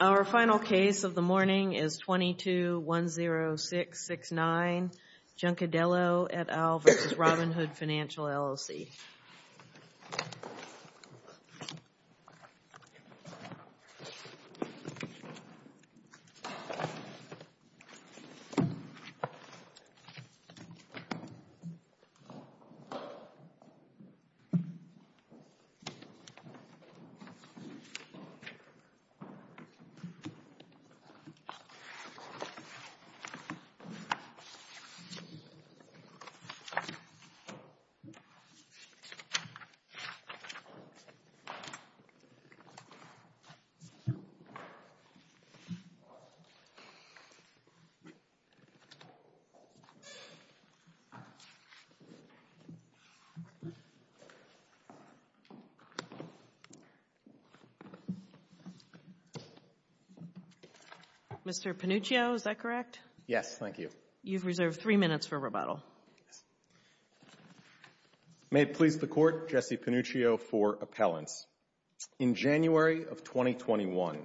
Our final case of the morning is 22-10669 Juncadello et al. v. Robinhood Financial LLC Mr. Panuccio, is that correct? Yes, thank you. Thank you. You've reserved three minutes for rebuttal. May it please the Court, Jesse Panuccio for appellants. In January of 2021,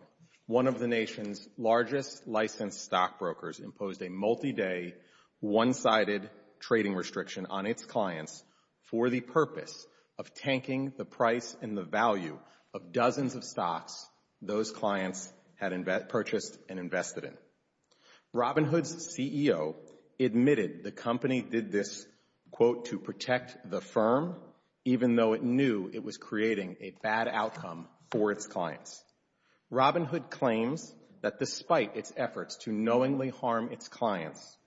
one of the nation's largest licensed stockbrokers imposed a multi-day, one-sided trading restriction on its clients for the purpose of tanking the price and the value of dozens of stocks those clients had purchased and invested in. Robinhood's CEO admitted the company did this, quote, to protect the firm, even though it knew it was creating a bad outcome for its clients. Robinhood claims that despite its efforts to knowingly harm its clients,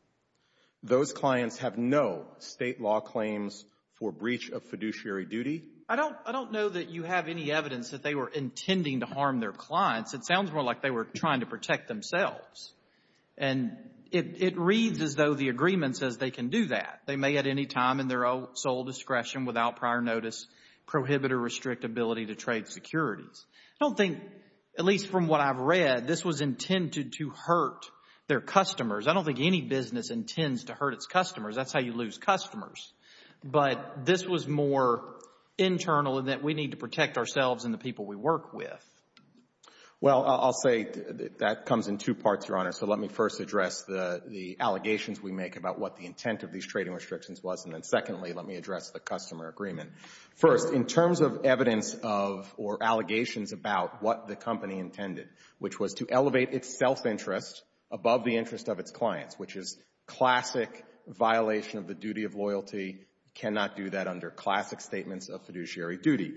those clients have no state law claims for breach of fiduciary duty. I don't know that you have any evidence that they were intending to harm their clients. It sounds more like they were trying to protect themselves. And it reads as though the agreement says they can do that. They may at any time in their sole discretion without prior notice prohibit a restrict ability to trade securities. I don't think, at least from what I've read, this was intended to hurt their customers. I don't think any business intends to hurt its customers. That's how you lose customers. But this was more internal in that we need to protect ourselves and the people we work with. Well, I'll say that comes in two parts, Your Honor. So let me first address the allegations we make about what the intent of these trading restrictions was. And then secondly, let me address the customer agreement. First, in terms of evidence of or allegations about what the company intended, which was to elevate its self-interest above the interest of its clients, which is classic violation of the duty of loyalty, cannot do that under classic statements of fiduciary duty.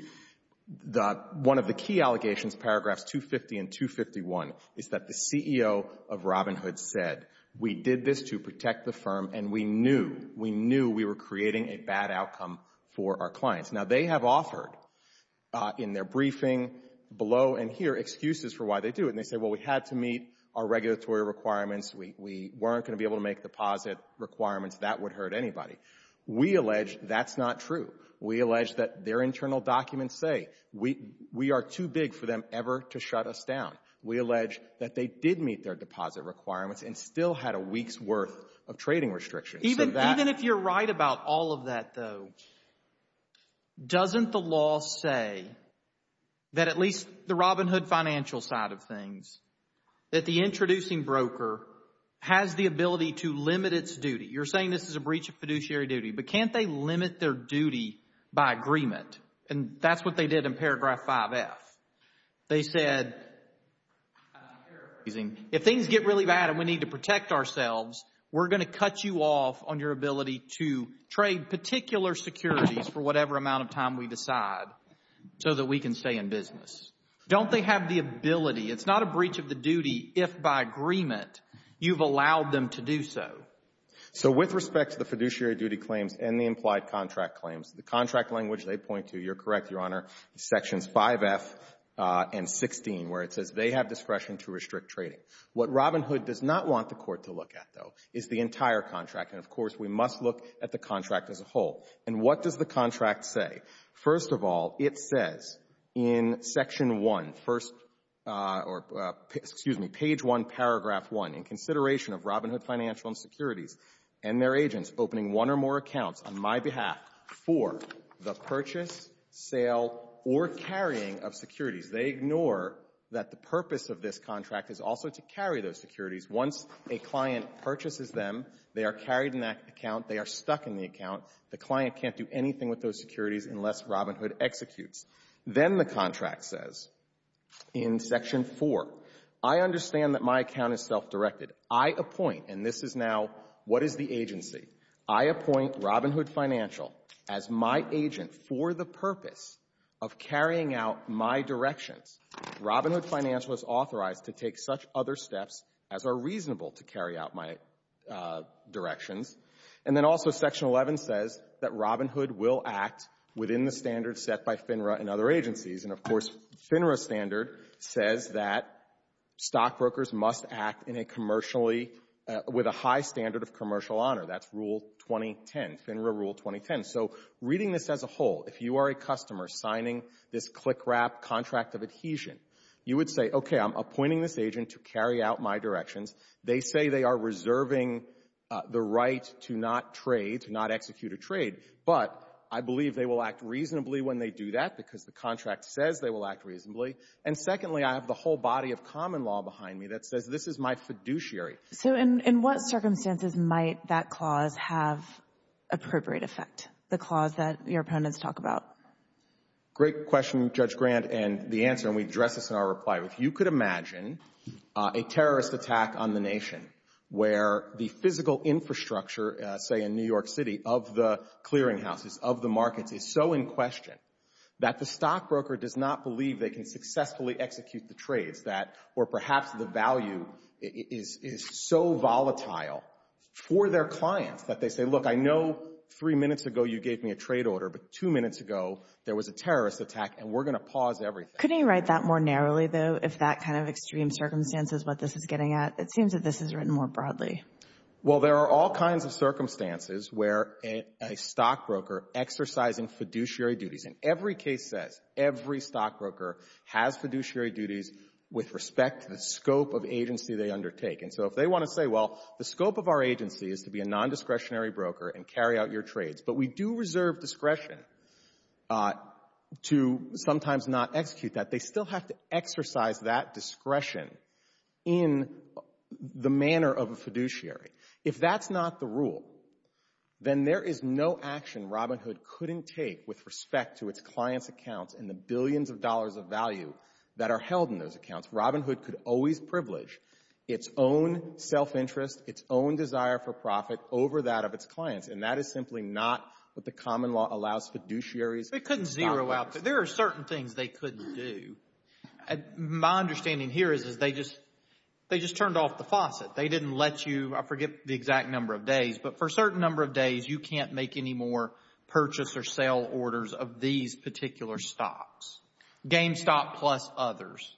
The one of the key allegations, paragraphs 250 and 251, is that the CEO of Robinhood said we did this to protect the firm, and we knew, we knew we were creating a bad outcome for our clients. Now, they have offered in their briefing below and here excuses for why they do it. And they say, well, we had to meet our regulatory requirements. We weren't going to be able to make deposit requirements. That would hurt anybody. We allege that's not true. We allege that their internal documents say we are too big for them ever to shut us down. We allege that they did meet their deposit requirements and still had a week's worth of trading restrictions. Even if you're right about all of that, though, doesn't the law say that at least the Robinhood financial side of things, that the introducing broker has the ability to limit its duty? You're saying this is a breach of fiduciary duty. But can't they limit their duty by agreement? And that's what they did in paragraph 5F. They said, if things get really bad and we need to protect ourselves, we're going to cut you off on your ability to trade particular securities for whatever amount of time we decide so that we can stay in business. Don't they have the ability? It's not a breach of the duty if by agreement you've allowed them to do so. So with respect to the fiduciary duty claims and the implied contract claims, the contract language they point to, you're correct, Your Honor, is sections 5F and 16, where it says they have discretion to restrict trading. What Robinhood does not want the Court to look at, though, is the entire contract. And, of course, we must look at the contract as a whole. And what does the contract say? First of all, it says in section 1, first or — excuse me, page 1, paragraph 1, in consideration of Robinhood Financial and Securities and their agents opening one or more accounts on my behalf for the purchase, sale, or carrying of securities. They ignore that the purpose of this contract is also to carry those securities. Once a client purchases them, they are carried in that account. They are stuck in the account. The client can't do anything with those securities unless Robinhood executes. Then the contract says in section 4, I understand that my account is self-directed. I appoint, and this is now what is the agency, I appoint Robinhood Financial as my agent for the purpose of carrying out my directions. Robinhood Financial is authorized to take such other steps as are reasonable to carry out my directions. And then also section 11 says that Robinhood will act within the standards set by FINRA and other agencies. And, of course, FINRA standard says that stockbrokers must act in a commercially — with a high standard of commercial honor. That's Rule 2010, FINRA Rule 2010. So reading this as a whole, if you are a customer signing this CLICRAP contract of adhesion, you would say, okay, I'm appointing this agent to carry out my directions. They say they are reserving the right to not trade, to not execute a trade, but I believe they will act reasonably when they do that because the contract says they will act reasonably. And secondly, I have the whole body of common law behind me that says this is my fiduciary. So in what circumstances might that clause have appropriate effect, the clause that your opponents talk about? Great question, Judge Grant, and the answer, and we address this in our reply. If you could imagine a terrorist attack on the nation where the physical infrastructure, say, in New York City of the clearinghouses, of the markets, is so in question that the stockbroker does not believe they can successfully execute the trades that — or perhaps the value is so volatile for their clients that they say, look, I know three minutes ago you gave me a trade order, but two minutes ago there was a terrorist attack, and we're going to pause everything. Couldn't you write that more narrowly, though, if that kind of extreme circumstance is what this is getting at? It seems that this is written more broadly. Well, there are all kinds of circumstances where a stockbroker exercising fiduciary duties — and every case says every stockbroker has fiduciary duties with respect to the scope of agency they undertake. And so if they want to say, well, the scope of our agency is to be a nondiscretionary broker and carry out your trades, but we do reserve discretion to sometimes not execute that, they still have to exercise that discretion in the manner of a fiduciary. If that's not the rule, then there is no action Robinhood couldn't take with respect to its clients' accounts and the billions of dollars of value that are held in those accounts. Robinhood could always privilege its own self-interest, its own desire for profit over that of its clients. And that is simply not what the common law allows fiduciaries to do. There are certain things they couldn't do. My understanding here is they just turned off the faucet. They didn't let you — I forget the exact number of days, but for a certain number of days, you can't make any more purchase or sale orders of these particular stocks. GameStop plus others.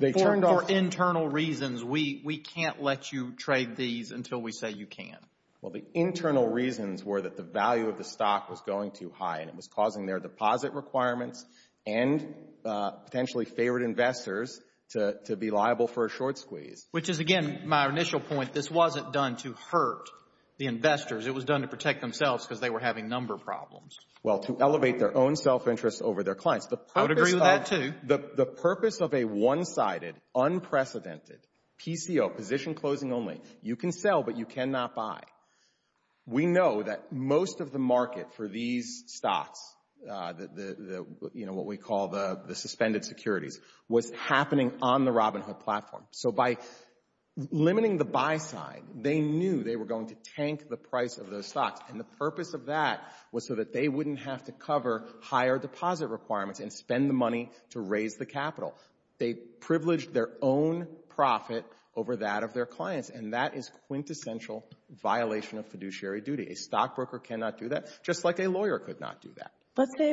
For internal reasons, we can't let you trade these until we say you can. Well, the internal reasons were that the value of the stock was going too high and it was causing their deposit requirements and potentially favored investors to be liable for a short squeeze. Which is, again, my initial point. This wasn't done to hurt the investors. It was done to protect themselves because they were having number problems. Well, to elevate their own self-interest over their clients. I would agree with that, too. The purpose of a one-sided, unprecedented PCO, position-closing only, you can sell but you cannot buy. We know that most of the market for these stocks, what we call the suspended securities, was happening on the Robinhood platform. So by limiting the buy side, they knew they were going to tank the price of those stocks. And the purpose of that was so that they wouldn't have to cover higher deposit requirements and spend the money to raise the capital. They privileged their own profit over that of their clients. And that is quintessential violation of fiduciary duty. A stockbroker cannot do that, just like a lawyer could not do that. Let's say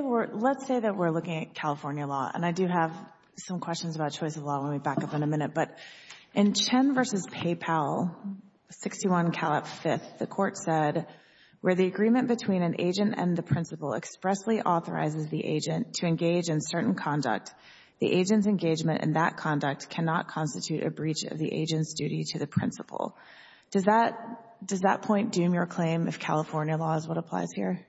that we're looking at California law. And I do have some questions about choice of law. Let me back up in a minute. But in Chen v. Paypal, 61 Calat V, the Court said, where the agreement between an agent and the principal expressly authorizes the agent to engage in certain conduct, the agent's engagement in that conduct cannot constitute a breach of the agent's duty to the principal. Does that point doom your claim if California law is what applies here?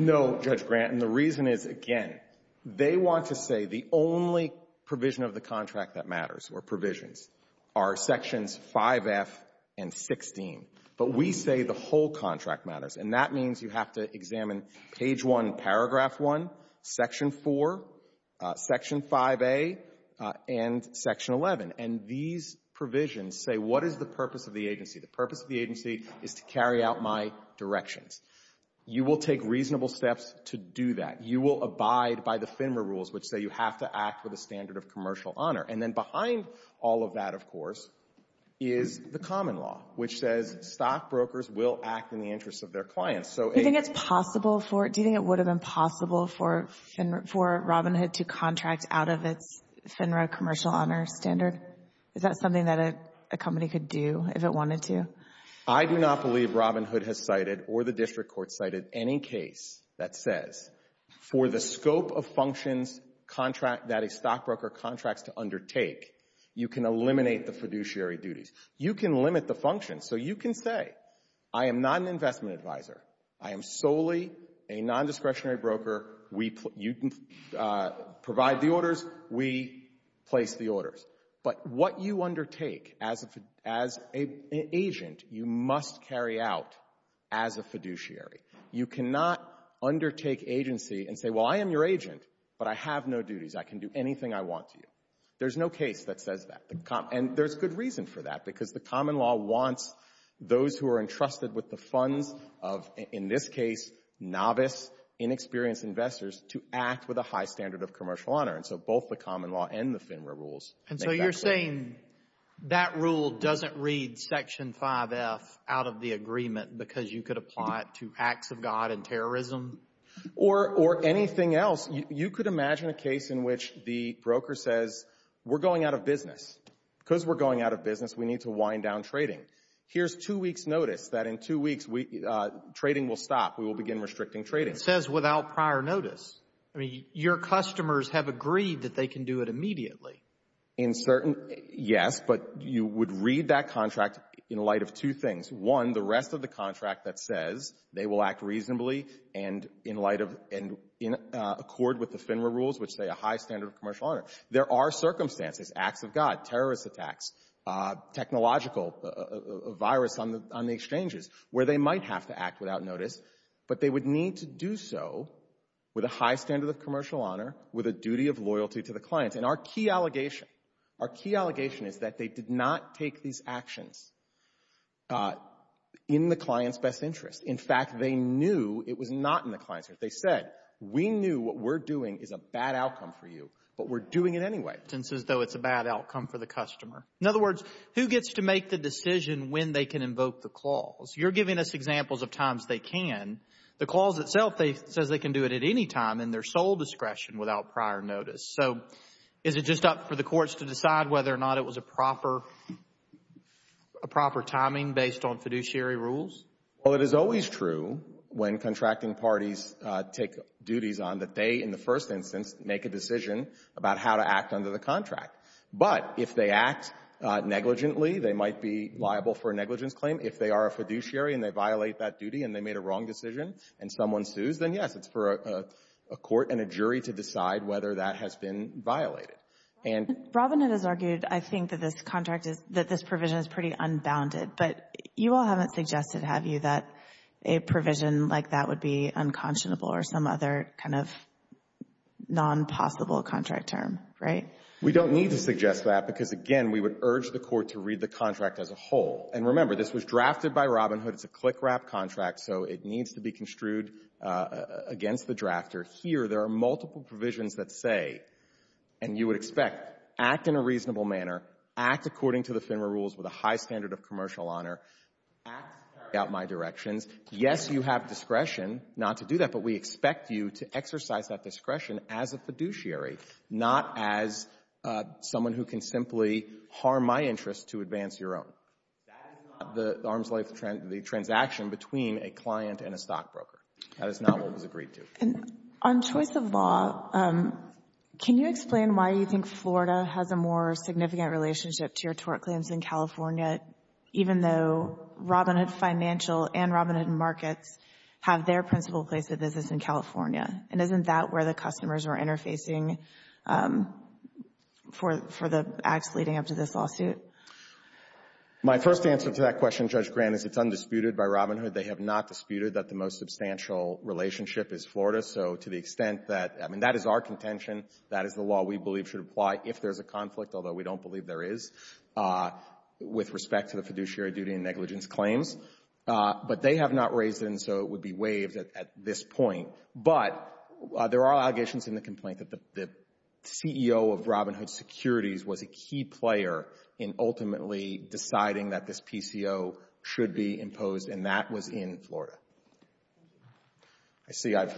No, Judge Grant. And the reason is, again, they want to say the only provision of the contract that matters or provisions are Sections 5F and 16. But we say the whole contract matters. And that means you have to examine Page 1, Paragraph 1, Section 4, Section 5A, and Section 11. And these provisions say, what is the purpose of the agency? The purpose of the agency is to carry out my directions. You will take reasonable steps to do that. You will abide by the FINRA rules, which say you have to act with a standard of commercial honor. And then behind all of that, of course, is the common law, which says stockbrokers will act in the interest of their clients. Do you think it's possible for it? Do you think it would have been possible for Robinhood to contract out of its FINRA commercial honor standard? Is that something that a company could do if it wanted to? I do not believe Robinhood has cited or the district court cited any case that says, for the scope of functions that a stockbroker contracts to undertake, you can eliminate the fiduciary duties. You can limit the functions. So you can say, I am not an investment advisor. I am solely a nondiscretionary broker. We provide the orders. We place the orders. But what you undertake as an agent, you must carry out as a fiduciary. You cannot undertake agency and say, well, I am your agent, but I have no duties. I can do anything I want to you. There's no case that says that. And there's good reason for that, because the common law wants those who are entrusted with the funds of, in this case, novice, inexperienced investors to act with a high standard of commercial honor. And so both the common law and the FINRA rules. And so you're saying that rule doesn't read Section 5F out of the agreement because you could apply it to acts of God and terrorism? Or anything else. You could imagine a case in which the broker says, we're going out of business. Because we're going out of business, we need to wind down trading. Here's two weeks' notice that in two weeks, trading will stop. We will begin restricting trading. Says without prior notice. I mean, your customers have agreed that they can do it immediately. In certain, yes. But you would read that contract in light of two things. One, the rest of the contract that says they will act reasonably and in light of and in accord with the FINRA rules, which say a high standard of commercial honor. There are circumstances, acts of God, terrorist attacks, technological, virus on the exchanges, where they might have to act without notice. But they would need to do so with a high standard of commercial honor, with a duty of loyalty to the client. And our key allegation, our key allegation is that they did not take these actions in the client's best interest. In fact, they knew it was not in the client's interest. They said, we knew what we're doing is a bad outcome for you, but we're doing it anyway. It's as though it's a bad outcome for the customer. In other words, who gets to make the decision when they can invoke the clause? You're giving us examples of times they can. The clause itself says they can do it at any time in their sole discretion without prior notice. So is it just up for the courts to decide whether or not it was a proper timing based on fiduciary rules? Well, it is always true when contracting parties take duties on that they, in the first instance, make a decision about how to act under the contract. But if they act negligently, they might be liable for a negligence claim. If they are a fiduciary and they violate that duty and they made a wrong decision and someone sues, then, yes, it's for a court and a jury to decide whether that has been violated. And — Robinette has argued, I think, that this contract is — that this provision is pretty unbounded. But you all haven't suggested, have you, that a provision like that would be unconscionable or some other kind of nonpossible contract term, right? We don't need to suggest that because, again, we would urge the court to read the contract as a whole. And remember, this was drafted by Robinhood. It's a click-wrap contract, so it needs to be construed against the drafter. Here, there are multiple provisions that say — and you would expect — act in a reasonable of commercial honor, act to carry out my directions. Yes, you have discretion not to do that, but we expect you to exercise that discretion as a fiduciary, not as someone who can simply harm my interest to advance your own. That is not the arm's-length transaction between a client and a stockbroker. That is not what was agreed to. And on choice of law, can you explain why you think Florida has a more significant relationship to your tort claims in California, even though Robinhood Financial and Robinhood Markets have their principal place of business in California? And isn't that where the customers are interfacing for the acts leading up to this lawsuit? My first answer to that question, Judge Grant, is it's undisputed by Robinhood. They have not disputed that the most substantial relationship is Florida. So to the extent that — I mean, that is our contention. That is the law we believe should apply if there's a conflict, although we don't believe there is, with respect to the fiduciary duty and negligence claims. But they have not raised it, and so it would be waived at this point. But there are allegations in the complaint that the CEO of Robinhood Securities was a key player in ultimately deciding that this PCO should be imposed, and that was in Florida. I see I've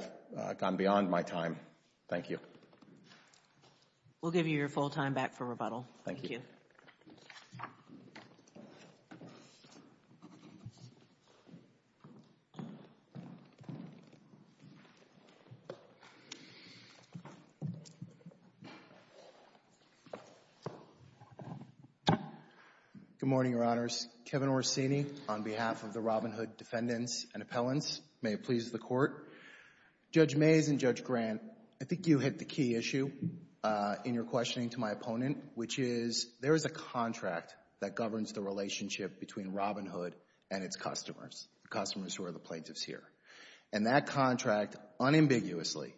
gone beyond my time. We'll give you your full time back for rebuttal. Thank you. Good morning, Your Honors. Kevin Orsini on behalf of the Robinhood defendants and appellants. May it please the Court. Judge Mays and Judge Grant, I think you hit the key issue in your questioning to my opponent, which is there is a contract that governs the relationship between Robinhood and its customers, the customers who are the plaintiffs here. And that contract, unambiguously,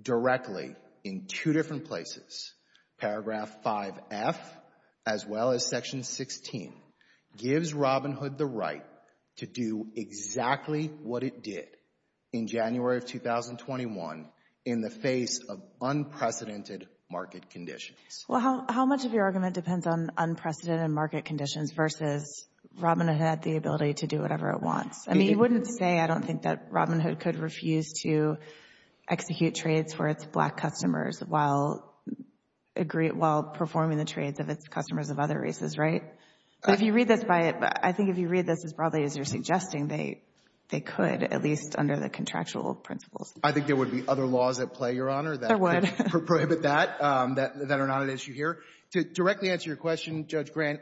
directly, in two different places, paragraph 5F as well as section 16, gives Robinhood the right to do exactly what it did in January of 2021 in the face of unprecedented market conditions. How much of your argument depends on unprecedented market conditions versus Robinhood had the ability to do whatever it wants? I mean, you wouldn't say I don't think that Robinhood could refuse to execute trades for its Black customers while performing the trades of its customers of other races, right? But if you read this by it, I think if you read this as broadly as you're suggesting, they could, at least under the contractual principles. I think there would be other laws at play, Your Honor, that would prohibit that, that are not an issue here. To directly answer your question, Judge Grant,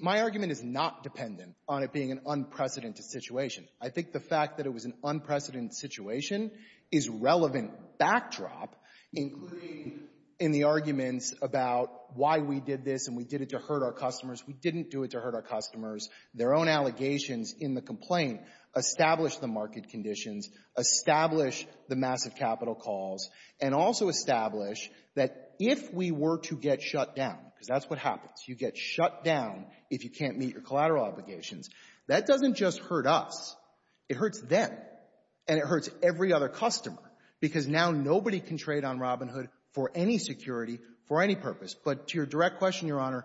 my argument is not dependent on it being an unprecedented situation. I think the fact that it was an unprecedented situation is a relevant backdrop, including in the arguments about why we did this and we did it to hurt our customers. We didn't do it to hurt our customers. Their own allegations in the complaint establish the market conditions, establish the massive capital calls, and also establish that if we were to get shut down, because that's what happens. You get shut down if you can't meet your collateral obligations. That doesn't just hurt us. It hurts them. And it hurts every other customer, because now nobody can trade on Robinhood for any security, for any purpose. But to your direct question, Your Honor,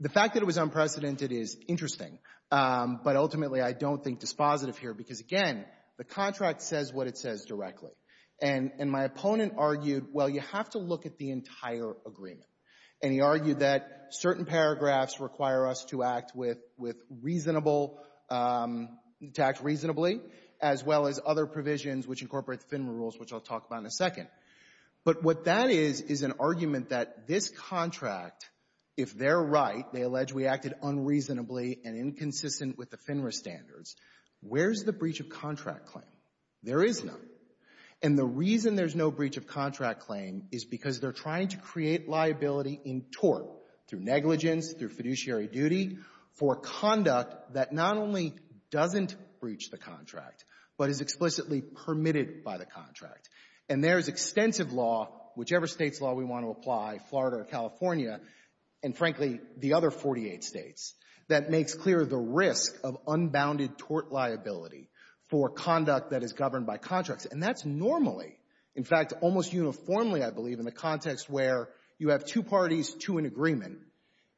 the fact that it was unprecedented is interesting. But ultimately, I don't think dispositive here, because again, the contract says what it says directly. And my opponent argued, well, you have to look at the entire agreement. And he argued that certain paragraphs require us to act with reasonable, to act reasonably, as well as other provisions which incorporate the FINRA rules, which I'll talk about in a second. But what that is, is an argument that this contract, if they're right, they consistent with the FINRA standards, where's the breach of contract claim? There is none. And the reason there's no breach of contract claim is because they're trying to create liability in tort, through negligence, through fiduciary duty, for conduct that not only doesn't breach the contract, but is explicitly permitted by the contract. And there's extensive law, whichever state's law we want to apply, Florida or unbounded tort liability for conduct that is governed by contracts. And that's normally, in fact, almost uniformly, I believe, in a context where you have two parties to an agreement,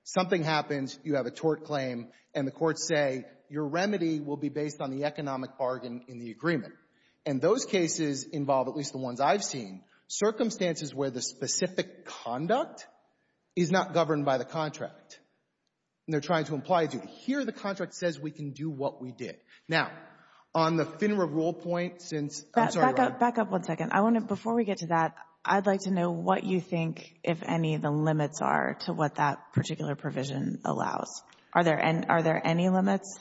something happens, you have a tort claim, and the courts say, your remedy will be based on the economic bargain in the agreement. And those cases involve, at least the ones I've seen, circumstances where the specific conduct is not governed by the contract. And they're trying to imply a duty. Here, the contract says we can do what we did. Now, on the FINRA rule point, since, I'm sorry, Ron. Back up one second. I want to, before we get to that, I'd like to know what you think, if any, the limits are to what that particular provision allows. Are there any limits?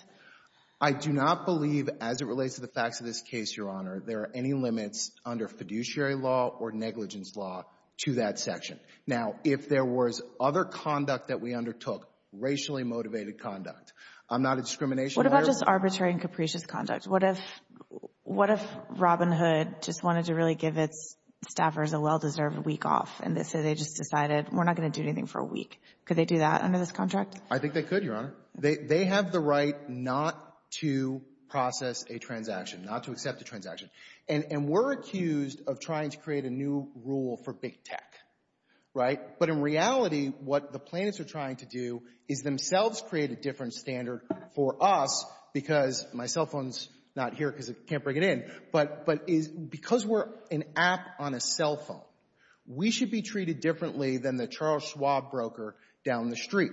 I do not believe, as it relates to the facts of this case, Your Honor, there are any limits under fiduciary law or negligence law to that section. Now, if there was other conduct that we undertook, racially motivated conduct, I'm not a discrimination lawyer. What about just arbitrary and capricious conduct? What if Robinhood just wanted to really give its staffers a well-deserved week off, and so they just decided, we're not going to do anything for a week? Could they do that under this contract? I think they could, Your Honor. And we're accused of trying to create a new rule for big tech, right? But in reality, what the plaintiffs are trying to do is themselves create a different standard for us, because my cell phone's not here because I can't bring it in, but because we're an app on a cell phone, we should be treated differently than the Charles Schwab broker down the street,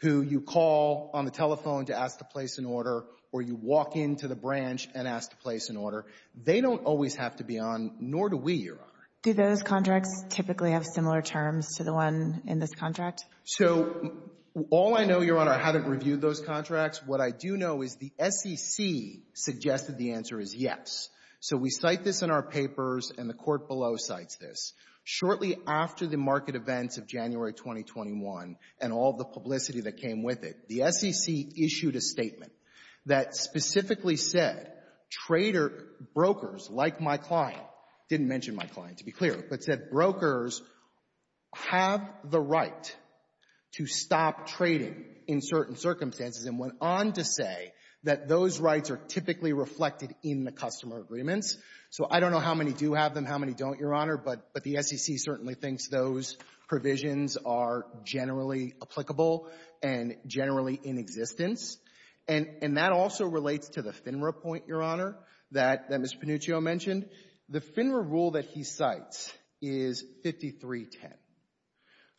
who you call on the telephone to ask to place an order, or you walk into the branch and ask to place an order. They don't always have to be on, nor do we, Your Honor. Do those contracts typically have similar terms to the one in this contract? So all I know, Your Honor, I haven't reviewed those contracts. What I do know is the SEC suggested the answer is yes. So we cite this in our papers, and the Court below cites this. Shortly after the market events of January 2021 and all the publicity that came with it, the SEC issued a statement that specifically said traders, brokers like my client, didn't mention my client to be clear, but said brokers have the right to stop trading in certain circumstances and went on to say that those rights are typically reflected in the customer agreements. So I don't know how many do have them, how many don't, Your Honor, but the SEC certainly thinks those provisions are generally applicable and generally in existence, and that also relates to the FINRA point, Your Honor, that Ms. Panuccio mentioned. The FINRA rule that he cites is 5310,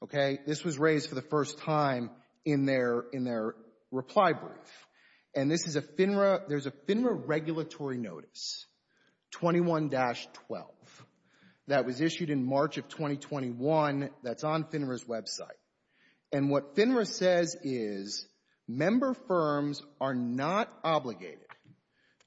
okay? This was raised for the first time in their reply brief, and this is a FINRA regulatory notice, 21-12, that was issued in March of 2021 that's on FINRA's website, and what FINRA says is member firms are not obligated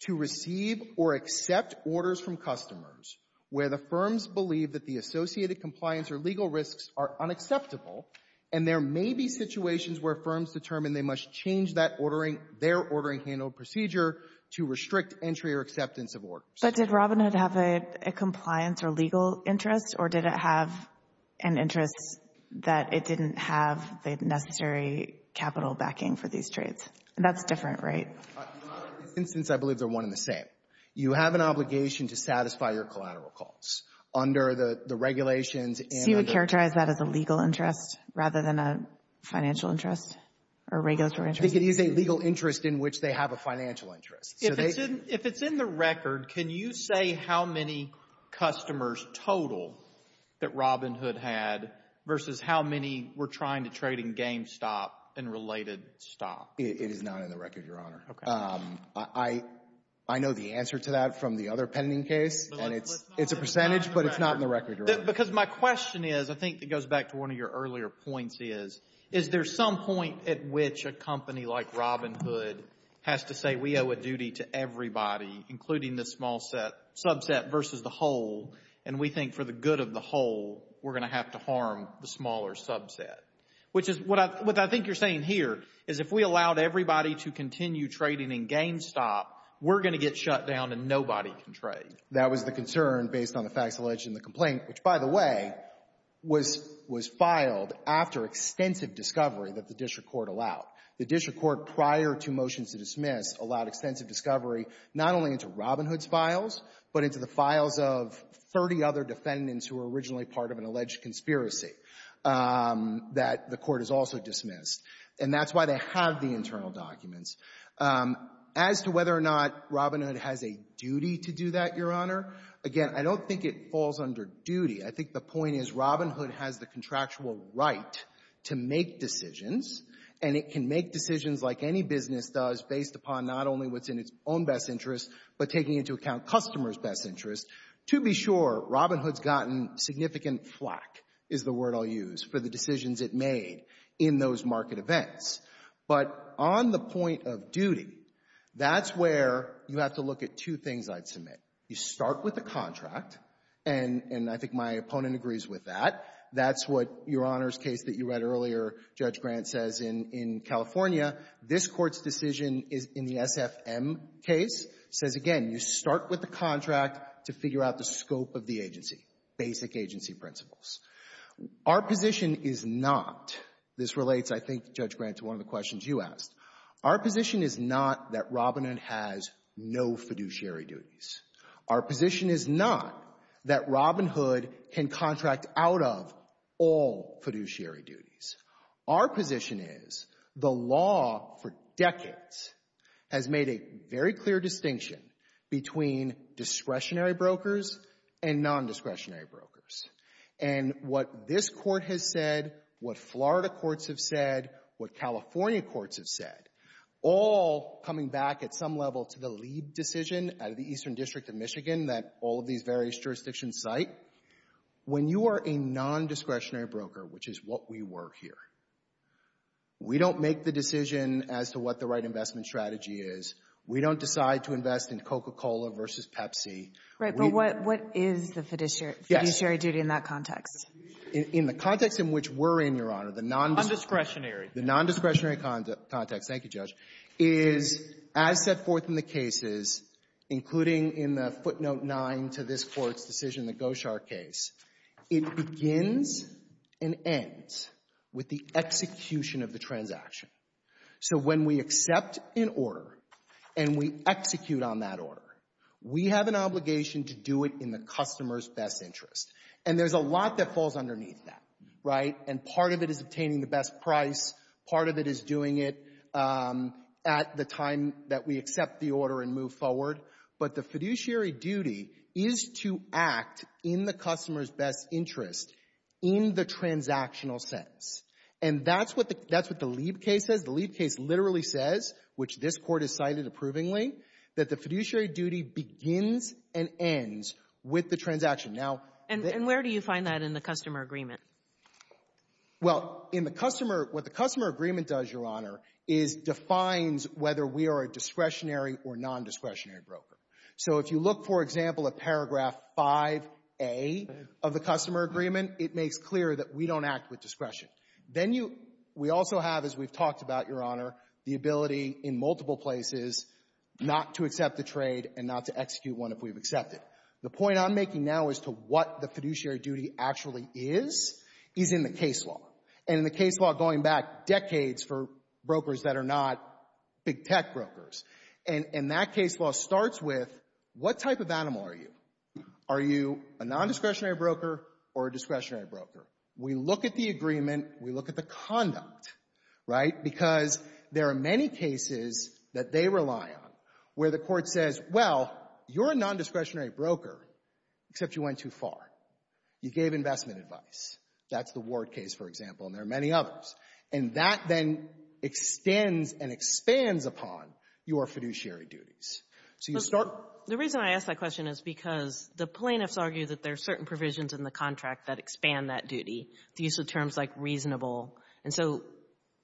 to receive or accept orders from customers where the firms believe that the associated compliance or legal risks are unacceptable, and there may be situations where firms determine they must change that ordering, their ordering handled procedure to restrict entry or acceptance of orders. But did Robinhood have a compliance or legal interest, or did it have an interest that it didn't have the necessary capital backing for these trades? That's different, right? Your Honor, in this instance, I believe they're one and the same. You have an obligation to satisfy your collateral costs under the regulations and under— So you would characterize that as a legal interest rather than a financial interest or regulatory interest? I think it is a legal interest in which they have a financial interest. So they— If it's in the record, can you say how many customers total that Robinhood had versus how many were trying to trade in GameStop and related stock? It is not in the record, Your Honor. Okay. I know the answer to that from the other pending case, and it's a percentage, but it's not in the record, Your Honor. Because my question is, I think that goes back to one of your earlier points is, is there some point at which a company like Robinhood has to say, we owe a duty to everybody, including the subset versus the whole, and we think for the good of the whole, we're going to have to harm the smaller subset? Which is what I think you're saying here is if we allowed everybody to continue trading in GameStop, we're going to get shut down and nobody can trade. That was the concern based on the facts alleged in the complaint, which, by the way, was filed after extensive discovery that the district court allowed. The district court, prior to motions to dismiss, allowed extensive discovery not only into Robinhood's files, but into the files of 30 other defendants who were originally part of an alleged conspiracy that the court has also dismissed. And that's why they have the internal documents. As to whether or not Robinhood has a duty to do that, Your Honor, again, I don't think it falls under duty. I think the point is Robinhood has the contractual right to make decisions, and it can make decisions like any business does based upon not only what's in its own best interest, but taking into account customers' best interest. To be sure, Robinhood's gotten significant flack, is the word I'll use, for the decisions it made in those market events. But on the point of duty, that's where you have to look at two things I'd submit. You start with the contract, and I think my opponent agrees with that. That's what Your Honor's case that you read earlier, Judge Grant, says in California. This Court's decision in the SFM case says, again, you start with the contract to figure out the scope of the agency, basic agency principles. Our position is not — this relates, I think, Judge Grant, to one of the questions you asked — our position is not that Robinhood has no fiduciary duties. Our position is not that Robinhood can contract out of all fiduciary duties. Our position is the law for decades has made a very clear distinction between discretionary brokers and non-discretionary brokers. And what this Court has said, what Florida courts have said, what California courts have said, all coming back at some level to the Leib decision out of the Eastern District of Michigan that all of these various jurisdictions cite, when you are a non-discretionary broker, which is what we work here, we don't make the decision as to what the right investment strategy is. We don't decide to invest in Coca-Cola versus Pepsi. Right, but what is the fiduciary duty in that context? In the context in which we're in, Your Honor, the non-discretionary — The non-discretionary context. Thank you, Judge. Is, as set forth in the cases, including in the footnote 9 to this Court's decision, the Goshar case, it begins and ends with the execution of the transaction. So when we accept an order and we execute on that order, we have an obligation to do it in the customer's best interest. And there's a lot that falls underneath that, right? And part of it is obtaining the best price. Part of it is doing it at the time that we accept the order and move forward. But the fiduciary duty is to act in the customer's best interest in the transactional sense. And that's what the — that's what the Lieb case says. The Lieb case literally says, which this Court has cited approvingly, that the fiduciary duty begins and ends with the transaction. Now — And where do you find that in the customer agreement? Well, in the customer — what the customer agreement does, Your Honor, is defines whether we are a discretionary or nondiscretionary broker. So if you look, for example, at paragraph 5A of the customer agreement, it makes clear that we don't act with discretion. Then you — we also have, as we've talked about, Your Honor, the ability in multiple places not to accept the trade and not to execute one if we've accepted. The point I'm making now as to what the fiduciary duty actually is, is in the case law. And in the case law, going back decades for brokers that are not big tech brokers. And that case law starts with, what type of animal are you? Are you a nondiscretionary broker or a discretionary broker? We look at the agreement. We look at the conduct, right? Because there are many cases that they rely on where the Court says, well, you're a nondiscretionary broker, except you went too far. You gave investment advice. That's the Ward case, for example. And there are many others. And that then extends and expands upon your fiduciary duties. So you start — The reason I ask that question is because the plaintiffs argue that there are certain provisions in the contract that expand that duty, the use of terms like reasonable. And so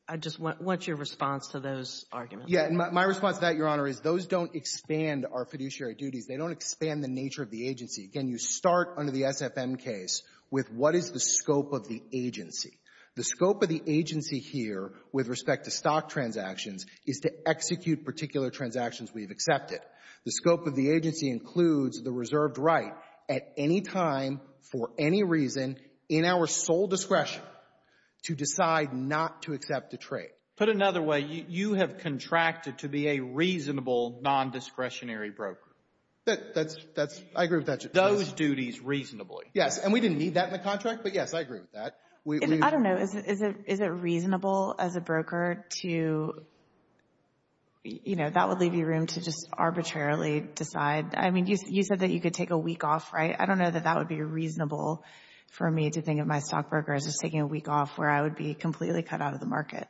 I just want your response to those arguments. My response to that, Your Honor, is those don't expand our fiduciary duties. They don't expand the nature of the agency. Again, you start under the SFM case with, what is the scope of the agency? The scope of the agency here with respect to stock transactions is to execute particular transactions we've accepted. The scope of the agency includes the reserved right at any time, for any reason, in our sole discretion, to decide not to accept a trade. Put another way, you have contracted to be a reasonable nondiscretionary broker. That's — I agree with that. Those duties reasonably. Yes. And we didn't need that in the contract. But yes, I agree with that. I don't know. Is it reasonable as a broker to — you know, that would leave you room to just arbitrarily decide — I mean, you said that you could take a week off, right? I don't know that that would be reasonable for me to think of my stock broker as just taking a week off where I would be completely cut out of the market.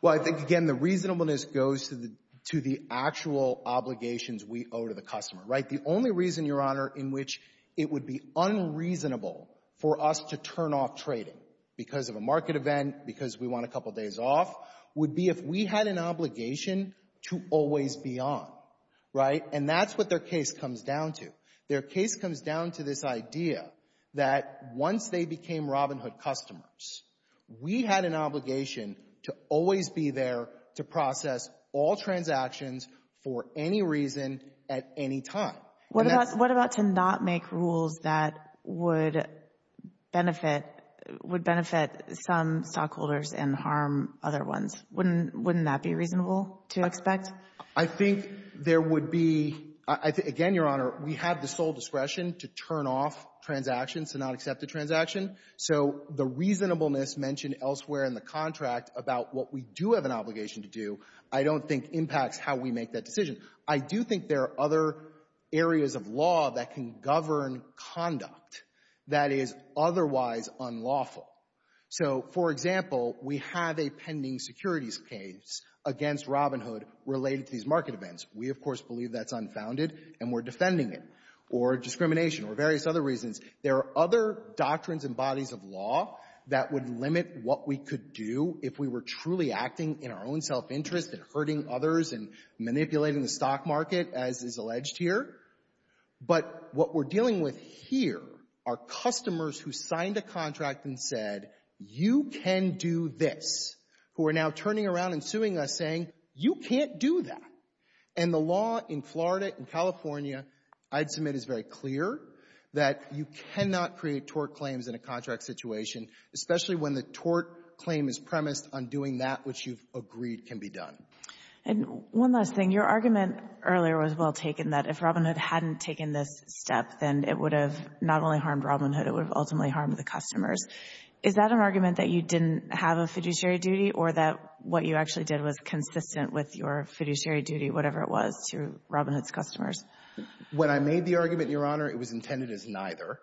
Well, I think, again, the reasonableness goes to the — to the actual obligations we owe to the customer, right? The only reason, Your Honor, in which it would be unreasonable for us to turn off trading because of a market event, because we want a couple days off, would be if we had an obligation to always be on, right? And that's what their case comes down to. Their case comes down to this idea that once they became Robinhood customers, we had an obligation to always be there to process all transactions for any reason at any time. What about — what about to not make rules that would benefit — would benefit some stockholders and harm other ones? Wouldn't — wouldn't that be reasonable to expect? I think there would be — again, Your Honor, we have the sole discretion to turn off transactions, to not accept a transaction. So the reasonableness mentioned elsewhere in the contract about what we do have an obligation to do, I don't think impacts how we make that decision. I do think there are other areas of law that can govern conduct that is otherwise unlawful. So, for example, we have a pending securities case against Robinhood related to these market events. We, of course, believe that's unfounded, and we're defending it, or discrimination, or various other reasons. There are other doctrines and bodies of law that would limit what we could do if we were truly acting in our own self-interest and hurting others and manipulating the stock market, as is alleged here. But what we're dealing with here are customers who signed a contract and said, you can do this, who are now turning around and suing us, saying, you can't do that. And the law in Florida and California, I'd submit, is very clear that you cannot create tort claims in a contract situation, especially when the tort claim is premised on doing that which you've agreed can be done. And one last thing. Your argument earlier was well taken, that if Robinhood hadn't taken this step, then it would have not only harmed Robinhood, it would have ultimately harmed the customers. Is that an argument that you didn't have a fiduciary duty, or that what you actually did was consistent with your fiduciary duty, whatever it was, to Robinhood's customers? When I made the argument, Your Honor, it was intended as neither.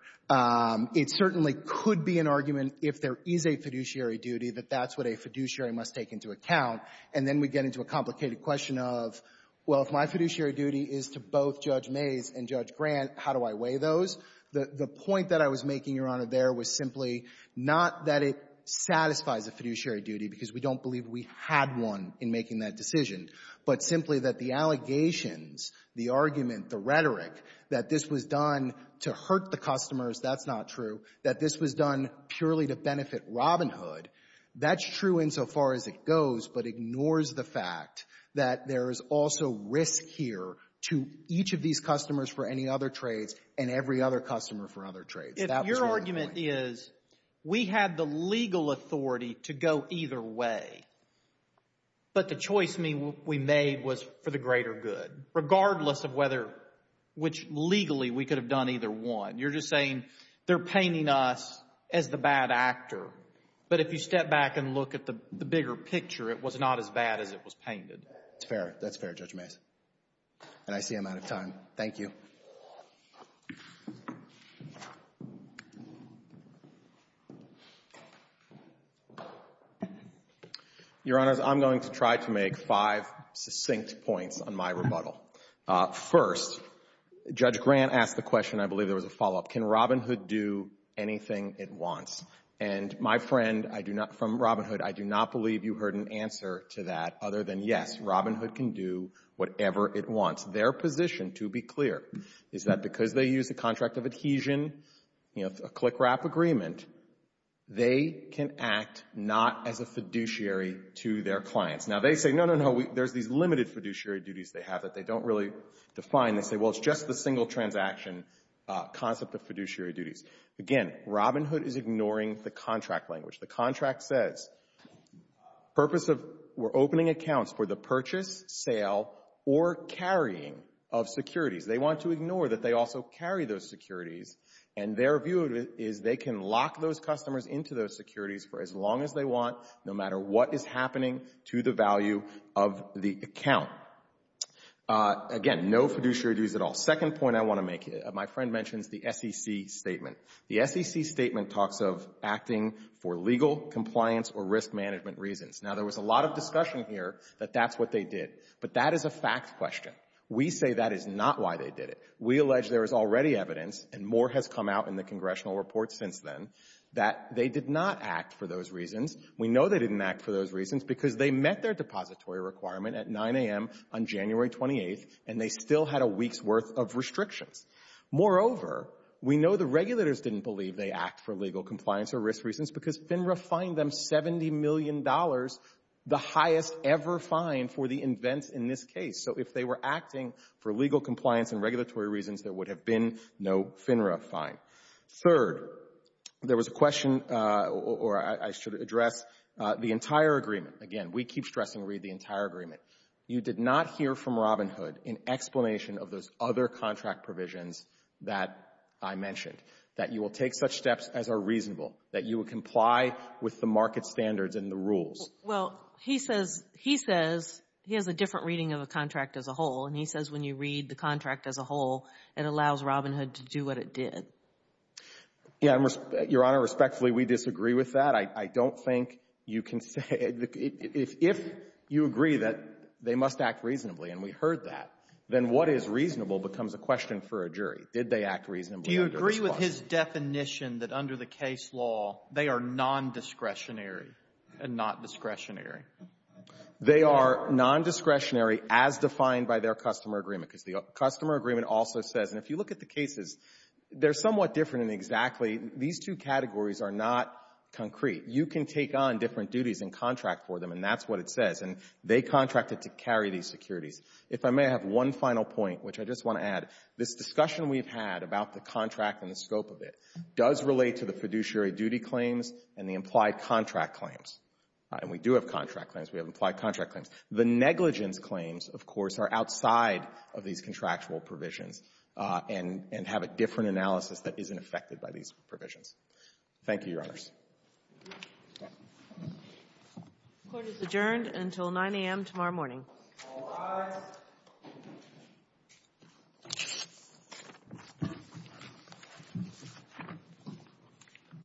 It certainly could be an argument if there is a fiduciary duty that that's what a fiduciary must take into account. And then we get into a complicated question of, well, if my fiduciary duty is to both Judge Mays and Judge Grant, how do I weigh those? The point that I was making, Your Honor, there was simply not that it satisfies a fiduciary duty because we don't believe we had one in making that decision, but simply that the allegations, the argument, the rhetoric that this was done to hurt the customers, that's not true, that this was done purely to benefit Robinhood, that's true insofar as it goes, but ignores the fact that there is also risk here to each of these customers for any other trades and every other customer for other trades. Your argument is we had the legal authority to go either way, but the choice we made was for the greater good, regardless of whether, which legally we could have done either one. You're just saying they're painting us as the bad actor, but if you step back and look at the bigger picture, it was not as bad as it was painted. It's fair. That's fair, Judge Mays. And I see I'm out of time. Thank you. Your Honor, I'm going to try to make five succinct points on my rebuttal. First, Judge Grant asked the question, I believe there was a follow-up, can Robinhood do anything it wants? And my friend from Robinhood, I do not believe you heard an answer to that other than yes, Robinhood can do whatever it wants. Their position, to be clear, is that because they use a contract of adhesion, you know, a click-wrap agreement, they can act not as a fiduciary to their clients. Now, they say, no, no, no, there's these limited fiduciary duties they have that they don't really define. They say, well, it's just the single transaction concept of fiduciary duties. Again, Robinhood is ignoring the contract language. The contract says, purpose of, we're opening accounts for the purchase, sale, or carrying of securities. They want to ignore that they also carry those securities. And their view is they can lock those customers into those securities for as long as they want, no matter what is happening to the value of the account. Again, no fiduciary duties at all. Second point I want to make, my friend mentions the SEC statement. The SEC statement talks of acting for legal, compliance, or risk management reasons. Now, there was a lot of discussion here that that's what they did. But that is a fact question. We say that is not why they did it. We allege there is already evidence, and more has come out in the congressional report since then, that they did not act for those reasons. We know they didn't act for those reasons because they met their depository requirement at 9 a.m. on January 28th, and they still had a week's worth of restrictions. Moreover, we know the regulators didn't believe they act for legal, compliance, or risk reasons because FINRA fined them $70 million, the highest ever fine for the events in this case. So if they were acting for legal, compliance, and regulatory reasons, there would have been no FINRA fine. Third, there was a question, or I should address the entire agreement. Again, we keep stressing read the entire agreement. You did not hear from Robinhood an explanation of those other contract provisions that I mentioned, that you will take such steps as are reasonable, that you will comply with the market standards and the rules. Well, he says he has a different reading of a contract as a whole, and he says when you read the contract as a whole, it allows Robinhood to do what it did. Yeah, Your Honor, respectfully, we disagree with that. I don't think you can say the — if you agree that they must act reasonably, and we heard that, then what is reasonable becomes a question for a jury. Did they act reasonably under the response? Do you agree with his definition that under the case law, they are nondiscretionary and not discretionary? They are nondiscretionary as defined by their customer agreement, because the customer agreement also says — and if you look at the cases, they're somewhat different exactly. These two categories are not concrete. You can take on different duties and contract for them, and that's what it says. And they contracted to carry these securities. If I may have one final point, which I just want to add. This discussion we've had about the contract and the scope of it does relate to the fiduciary duty claims and the implied contract claims. And we do have contract claims. We have implied contract claims. The negligence claims, of course, are outside of these contractual provisions and have a different analysis that isn't affected by these provisions. Thank you, Your Honors. The court is adjourned until 9 a.m. tomorrow morning.